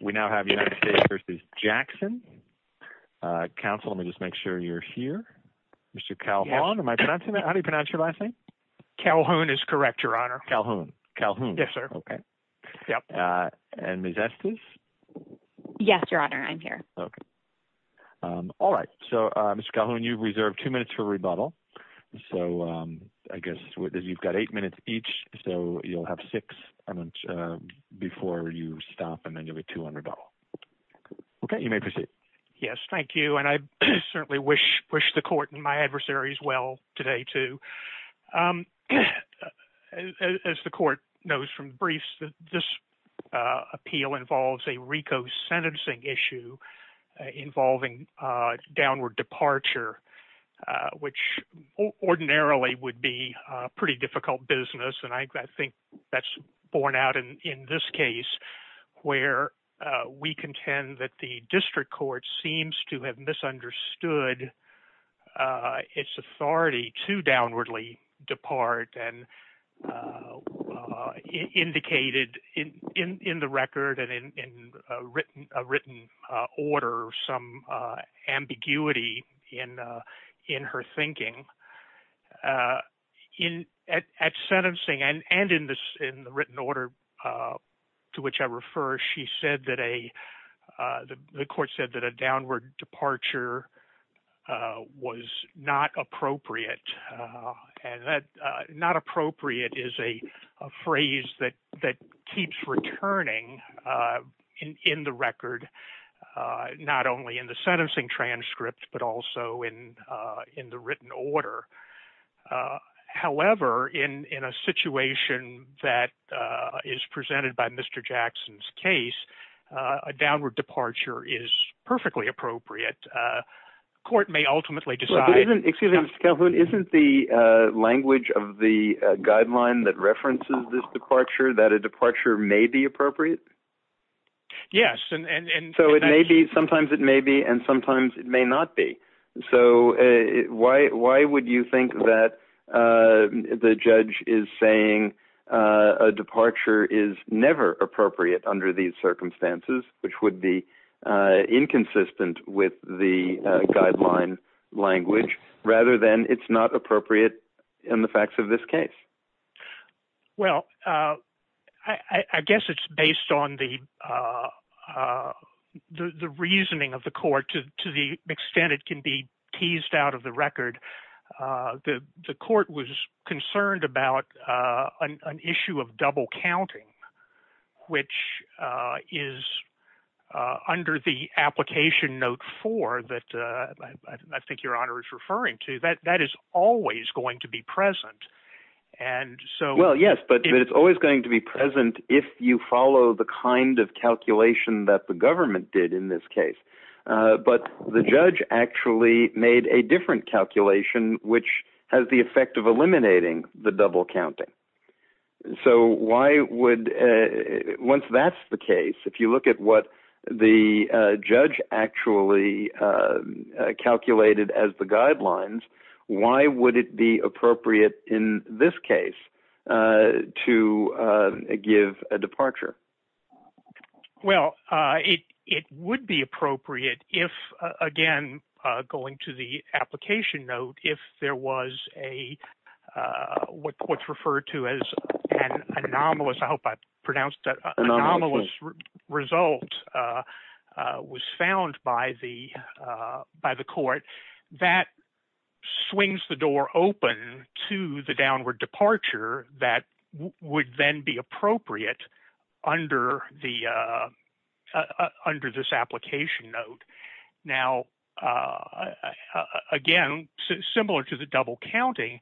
We now have United States v. Jackson. Counsel, let me just make sure you're here. Mr. Calhoun, am I pronouncing that? How do you pronounce your last name? Calhoun is correct, Your Honor. Calhoun. Calhoun. Yes, sir. Okay. Yep. And Ms. Estes? Yes, Your Honor. I'm here. Okay. All right. So, Mr. Calhoun, you've reserved two minutes for rebuttal. So, I guess you've got eight minutes each, so you'll have six before you stop, and then you'll be $200. Okay, you may proceed. Yes, thank you. And I certainly wish the Court and my adversaries well today, too. As the Court knows from the briefs, this appeal involves a RICO sentencing issue involving downward departure, which ordinarily would be a pretty difficult business. And I think that's borne out in this case, where we contend that the District Court seems to have misunderstood its authority to downwardly depart and indicated in the record and in a written order some ambiguity in her thinking. At sentencing, and in the written order to which I refer, she said that a — the Court said that a downward departure was not appropriate. And that not appropriate is a phrase that keeps returning in the record, not only in the sentencing transcript, but also in the written order. However, in a situation that is presented by Mr. Jackson's case, a downward departure is perfectly appropriate. Court may ultimately decide — Excuse me, Mr. Calhoun. Isn't the language of the guideline that references this departure that a departure may be appropriate? Yes, and — So it may be, sometimes it may be, and sometimes it may not be. So why would you think that the judge is saying a departure is never appropriate under these circumstances, which would be inconsistent with the guideline language, rather than it's not appropriate in the facts of this case? Well, I guess it's based on the reasoning of the Court, to the extent it can be teased out of the record. The Court was concerned about an issue of double counting, which is under the Application Note 4 that I think Your Honor is referring to. That is always going to be present. And so — Well, yes, but it's always going to be present if you follow the kind of calculation that the But the judge actually made a different calculation, which has the effect of eliminating the double counting. So why would — Once that's the case, if you look at what the judge actually calculated as the guidelines, why would it be appropriate in this case to give a departure? Well, it would be appropriate if, again, going to the application note, if there was a — what's referred to as an anomalous — I hope I pronounced that — anomalous result was found by the Court. That swings the door open to the downward departure that would then be appropriate under this application note. Now, again, similar to the double counting,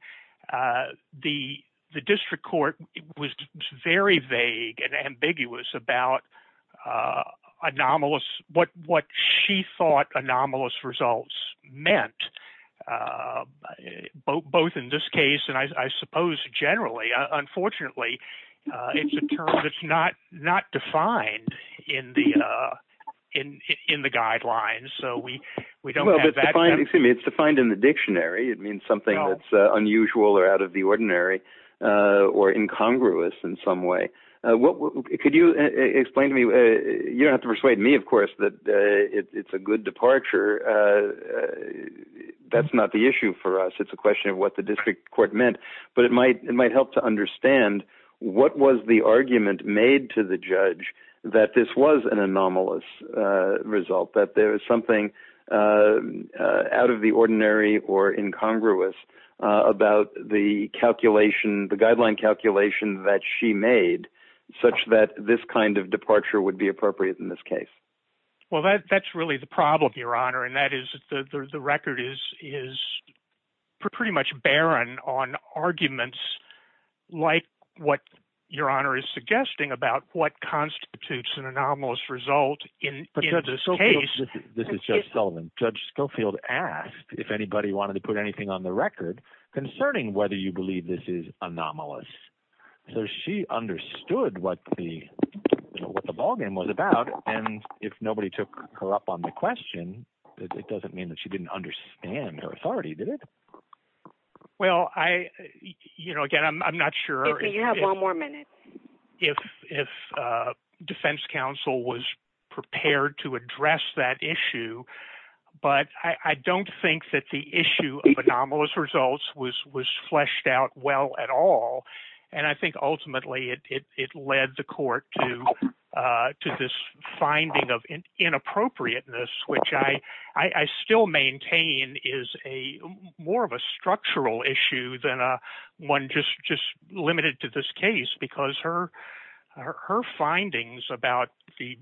the District Court was very vague and ambiguous about anomalous — what she thought anomalous results meant, both in this case and, I suppose, generally. Unfortunately, it's a term that's not defined in the guidelines. So we don't have that — Well, it's defined in the dictionary. It means something that's unusual or out of the ordinary or incongruous in some way. Could you explain to me — you don't have to persuade me, of course, that it's a good departure. That's not the issue for us. It's a question of what the District Court meant. But it might help to understand what was the argument made to the judge that this was an anomalous result, that there was something out of the ordinary or incongruous about the calculation, the guideline calculation that she made, such that this kind of departure would be appropriate in this case. Well, that's really the problem, Your Honor, and that is the record is pretty much barren on arguments like what Your Honor is suggesting about what constitutes an anomalous result in this case. This is Judge Sullivan. Judge Schofield asked if anybody wanted to put anything on the record concerning whether you believe this is anomalous. So she understood what the ballgame was about, and if nobody took her up on the question, it doesn't mean that she didn't understand her authority, did it? Well, again, I'm not sure — If you have one more minute. — if defense counsel was prepared to address that issue, but I don't think that the issue of anomalous results was fleshed out well at all, and I think ultimately it led the court to this finding of inappropriateness, which I still maintain is more of a structural issue than one just limited to this case, because her findings about the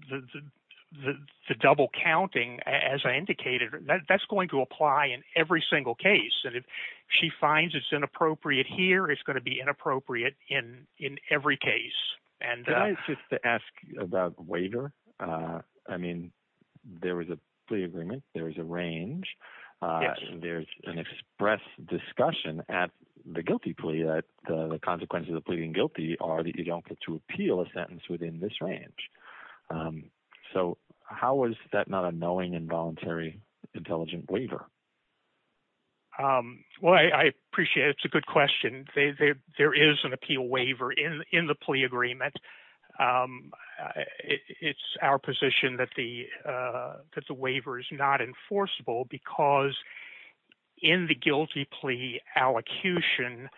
double counting, as I indicated, that's going to apply in every single case, and if she finds it's inappropriate here, it's going to be inappropriate in every case. — Can I just ask about waiver? I mean, there is a plea agreement, there is a range, there's an express discussion at the guilty plea that the consequences of pleading guilty are that you don't get to appeal a sentence within this range. So how is that not a knowing, involuntary, intelligent waiver? — Well, I appreciate it. It's a good question. There is an appeal waiver in the plea agreement. It's our position that the waiver is not enforceable because in the guilty plea allocution,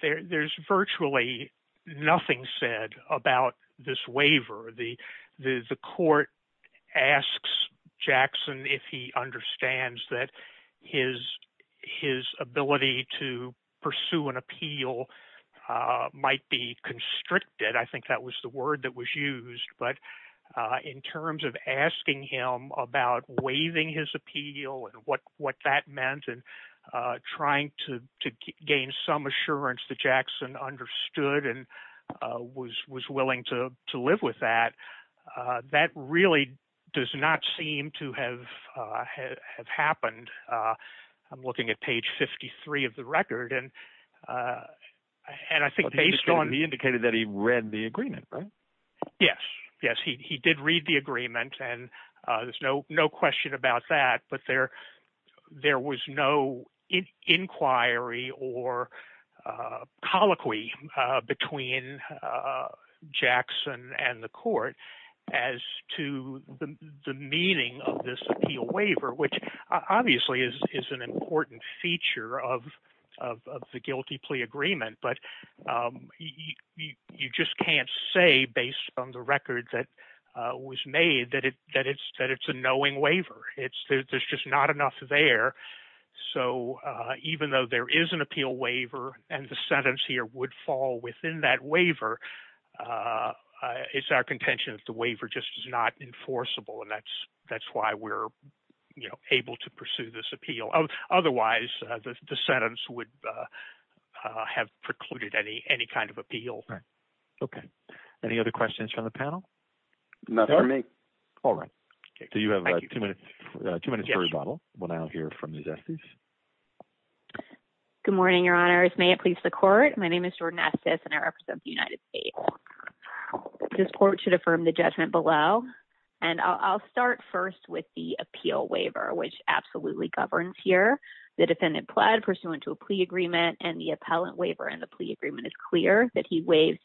there's virtually nothing said about this waiver. The court asks Jackson if he understands that his ability to pursue an appeal might be constricted. I think that was the word that was used, but in terms of asking him about waiving his appeal and what that meant and trying to gain some assurance that Jackson understood and was willing to live with that, that really does not seem to have happened. I'm looking at page 53 of the record, and I think based on— — He indicated that he read the agreement, right? — Yes. Yes, he did read the agreement, and there's no question about that, but there was no inquiry or colloquy between Jackson and the court as to the meaning of this appeal waiver, which obviously is an important feature of the guilty plea agreement, but you just can't say based on the record that was made that it's a knowing waiver. There's just not enough there. So even though there is an appeal waiver and the sentence here would fall within that waiver, it's our contention that the waiver just is not enforceable, and that's why we're able to pursue this appeal. Otherwise, the sentence would have precluded any kind of appeal. — Right. Okay. Any other questions from the panel? — None for me. — All right. So you have two minutes for rebuttal. We'll now hear from Ms. Estes. — Good morning, Your Honors. May it please the Court. My name is Jordan Estes, and I represent the United States. This Court should affirm the judgment below, and I'll start first with the appeal waiver, which absolutely governs here. The defendant pled pursuant to a plea agreement, and the appellant waiver in the plea agreement is clear that he waived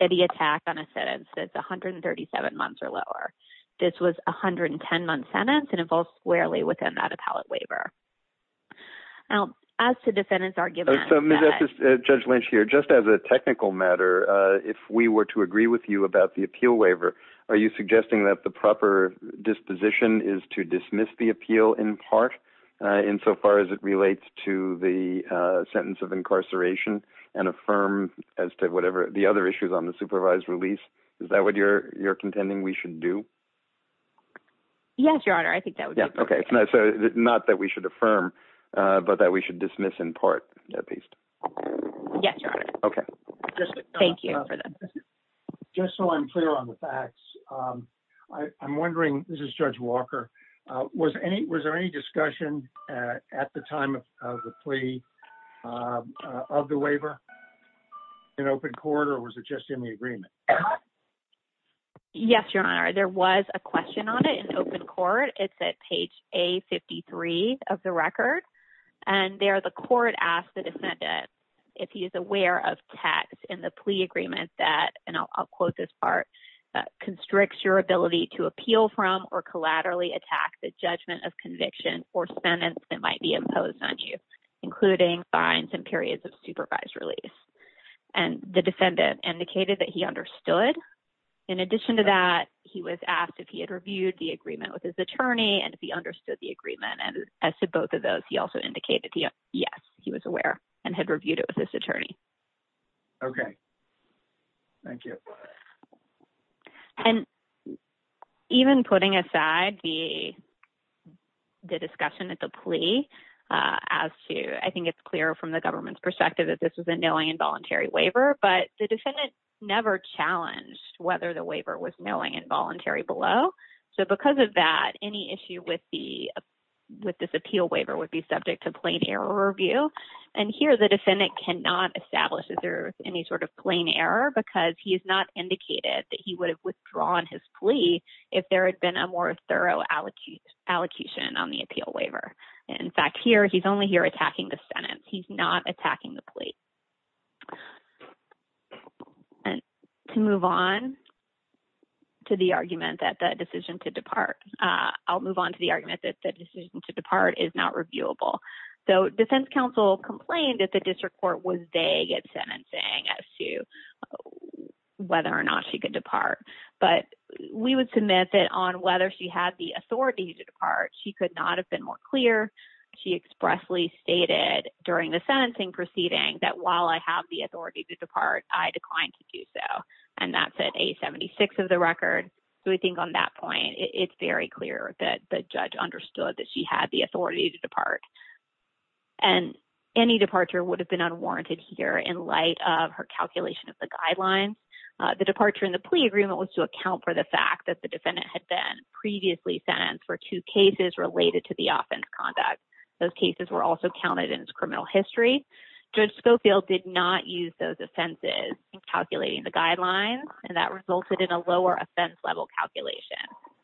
any attack on a sentence that's 137 months or lower. This was a 110-month sentence, and it falls squarely within that appellate waiver. Now, as to defendant's argument— — So, Ms. Estes, Judge Lynch here, just as a technical matter, if we were to agree with you about the appeal waiver, are you suggesting that the proper disposition is to dismiss the appeal in part, insofar as it relates to the sentence of incarceration, and affirm as to whatever the other issues on the supervised release? Is that what you're contending we should do? — Yes, Your Honor. I think that would be— — Okay. So not that we should affirm, but that we should dismiss in part, at least. — Yes, Your Honor. — Okay. — Thank you for that. — Just so I'm clear on the facts, I'm wondering—this is Judge Walker—was there any discussion at the time of the plea of the waiver in open court, or was it just in the agreement? — Yes, Your Honor. There was a question on it in open court. It's at page A53 of the record, and there the court asked the defendant if he is aware of text in the plea agreement that—and I'll quote this part—constricts your ability to appeal from or collaterally attack the judgment of conviction or sentence that might be imposed on you, including fines and periods of supervised release. And the defendant indicated that he understood. In addition to that, he was asked if he had reviewed the agreement with his attorney and if he understood the agreement. And as to both of those, he also indicated yes, he was aware and had reviewed it with his attorney. — Okay. Thank you. — And even putting aside the discussion at the plea, as to—I think it's clear from the government's perspective that this was a knowing and voluntary waiver, but the defendant never challenged whether the waiver was knowing and voluntary below. So because of that, any issue with the—with this appeal waiver would be subject to plain error review. And here, the defendant cannot establish if there was any sort of plain error because he has not indicated that he would have withdrawn his plea if there had been a more thorough allocation on the appeal waiver. In fact, here, he's only here attacking the sentence. He's not attacking the plea. And to move on to the argument that the decision to depart—I'll move on to the argument that the decision to depart is not reviewable. So defense counsel complained that the district court was vague at sentencing as to whether or not she could depart. But we would submit that on whether she had the authority to depart, she could not have been more clear. She expressly stated during the sentencing proceeding that, while I have the authority to depart, I declined to do so. And that's at 876 of the record. So we think on that point, it's very clear that the judge understood that she had the authority to depart. And any departure would have been unwarranted here in light of her calculation of the guidelines. The departure in the plea agreement was to account for the fact that the defendant had been previously sentenced for two cases related to the offense conduct. Those cases were also counted in his criminal history. Judge Schofield did not use those offenses in calculating the guidelines, and that resulted in a lower offense level calculation.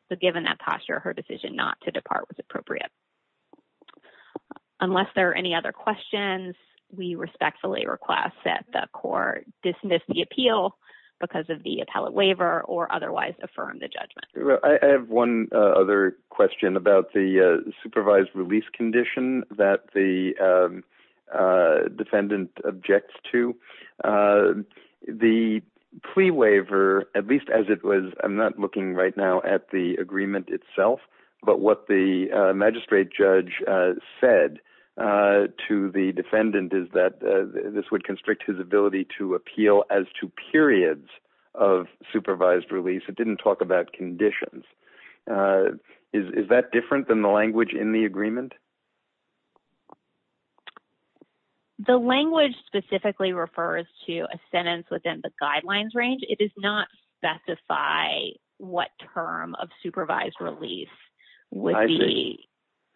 So given that posture, her decision not to depart was appropriate. Unless there are any other questions, we respectfully request that the court dismiss the appeal because of the appellate waiver or otherwise affirm the judgment. I have one other question about the supervised release condition that the the plea waiver, at least as it was, I'm not looking right now at the agreement itself, but what the magistrate judge said to the defendant is that this would constrict his ability to appeal as to periods of supervised release. It didn't talk about conditions. Is that different than the language in the agreement? The language specifically refers to a sentence within the guidelines range. It does not specify what term of supervised release would be.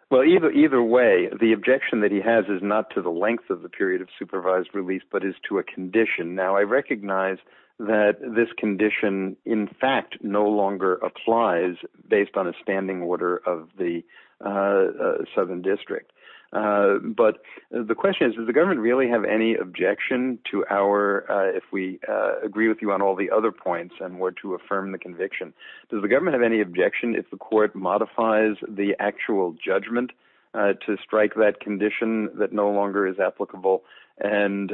Well, either way, the objection that he has is not to the length of the period of supervised release, but is to a condition. Now, I recognize that this condition, in fact, no longer applies based on a standing order of the district. But the question is, does the government really have any objection to our, if we agree with you on all the other points and were to affirm the conviction, does the government have any objection if the court modifies the actual judgment to strike that condition that no longer is applicable and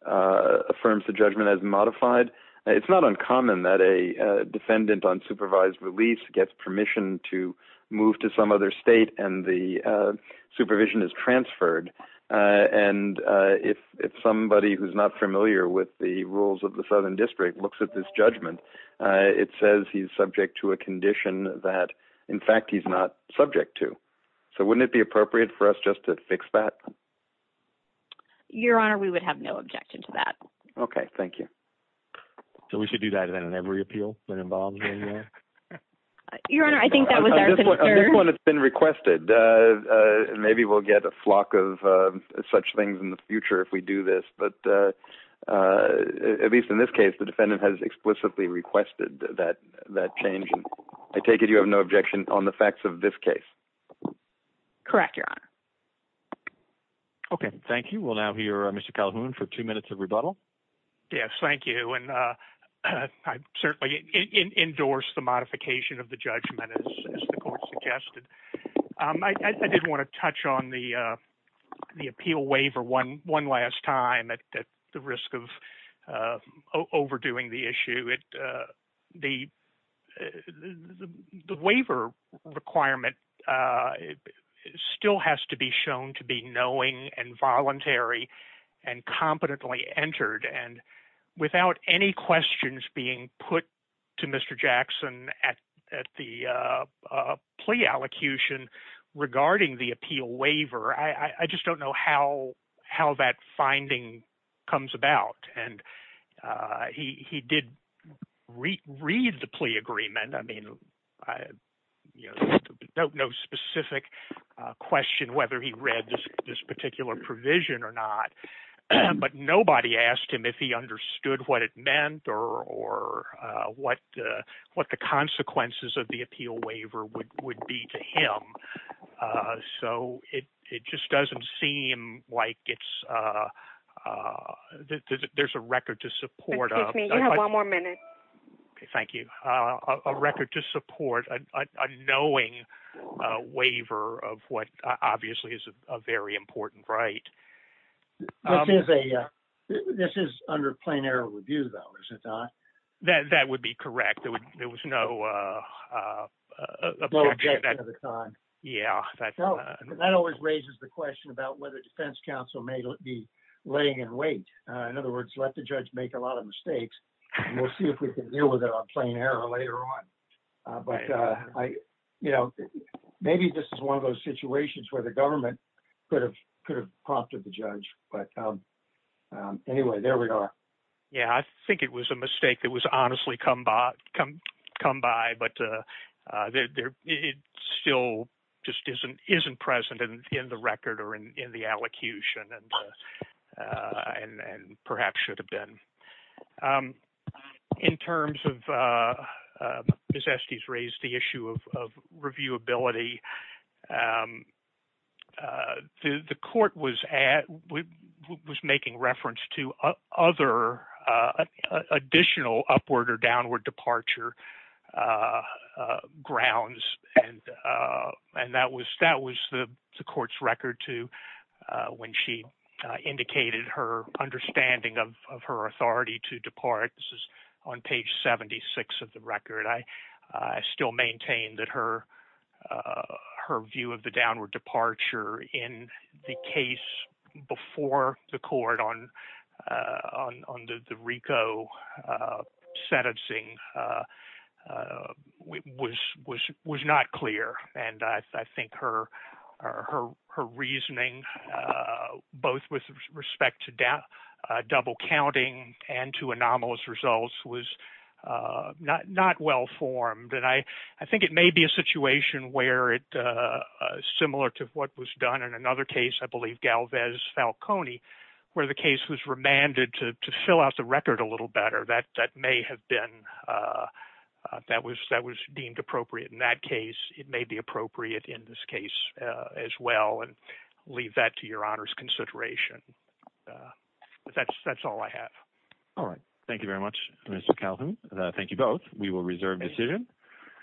affirms the judgment as modified? It's not uncommon that a defendant on supervised release gets permission to move to some other state and the supervision is transferred. And if somebody who's not familiar with the rules of the Southern District looks at this judgment, it says he's subject to a condition that, in fact, he's not subject to. So wouldn't it be appropriate for us just to fix that? Your Honor, we would have no objection to that. Okay. Thank you. So we should do that in every appeal? Your Honor, I think that was our concern. This one has been requested. Maybe we'll get a flock of such things in the future if we do this. But at least in this case, the defendant has explicitly requested that change. I take it you have no objection on the facts of this case? Correct, Your Honor. Okay. Thank you. We'll now hear Mr. Calhoun for two minutes of rebuttal. Yes. Thank you. And I certainly endorse the modification of the judgment, as the court suggested. I did want to touch on the appeal waiver one last time at the risk of overdoing the issue. The waiver requirement still has to be shown to be knowing and voluntary and competently entered. And without any questions being put to Mr. Jackson at the plea allocution regarding the appeal waiver, I just don't know how that finding comes about. And he did read the plea agreement. I mean, no specific question whether he read this particular provision or not. But nobody asked him if he understood what it meant or what the consequences of the appeal waiver would be to him. So it just doesn't seem like there's a record to support. Excuse me. You have one more minute. Okay. Thank you. A record to support a knowing waiver of what obviously is a very important right. This is under plain error review, though, is it not? That would be correct. There was no objection at the time. Yeah. That always raises the question about whether defense counsel may be laying in wait. In other words, let the judge make a lot of mistakes, and we'll see if we can deal with it on plain error later on. But maybe this is one of those prompts of the judge. But anyway, there we are. Yeah. I think it was a mistake that was honestly come by, but it still just isn't present in the record or in the allocution and perhaps should have been. In terms of Ms. Estes raised the issue of reviewability, the court was making reference to other additional upward or downward departure grounds. And that was the court's record to when she indicated her understanding of her 76 of the record. I still maintain that her view of the downward departure in the case before the court on the RICO sentencing was not clear. And I think her reasoning, both with respect to double counting and to anomalous results, was not well formed. And I think it may be a situation where it, similar to what was done in another case, I believe Galvez Falcone, where the case was remanded to fill out the record a little better. That may have been, that was deemed appropriate in that case. It may be appropriate in this case as well. And leave that to your honor's consideration. That's all I have. All right. Thank you very much, Mr. Calhoun. Thank you both. We will reserve decision.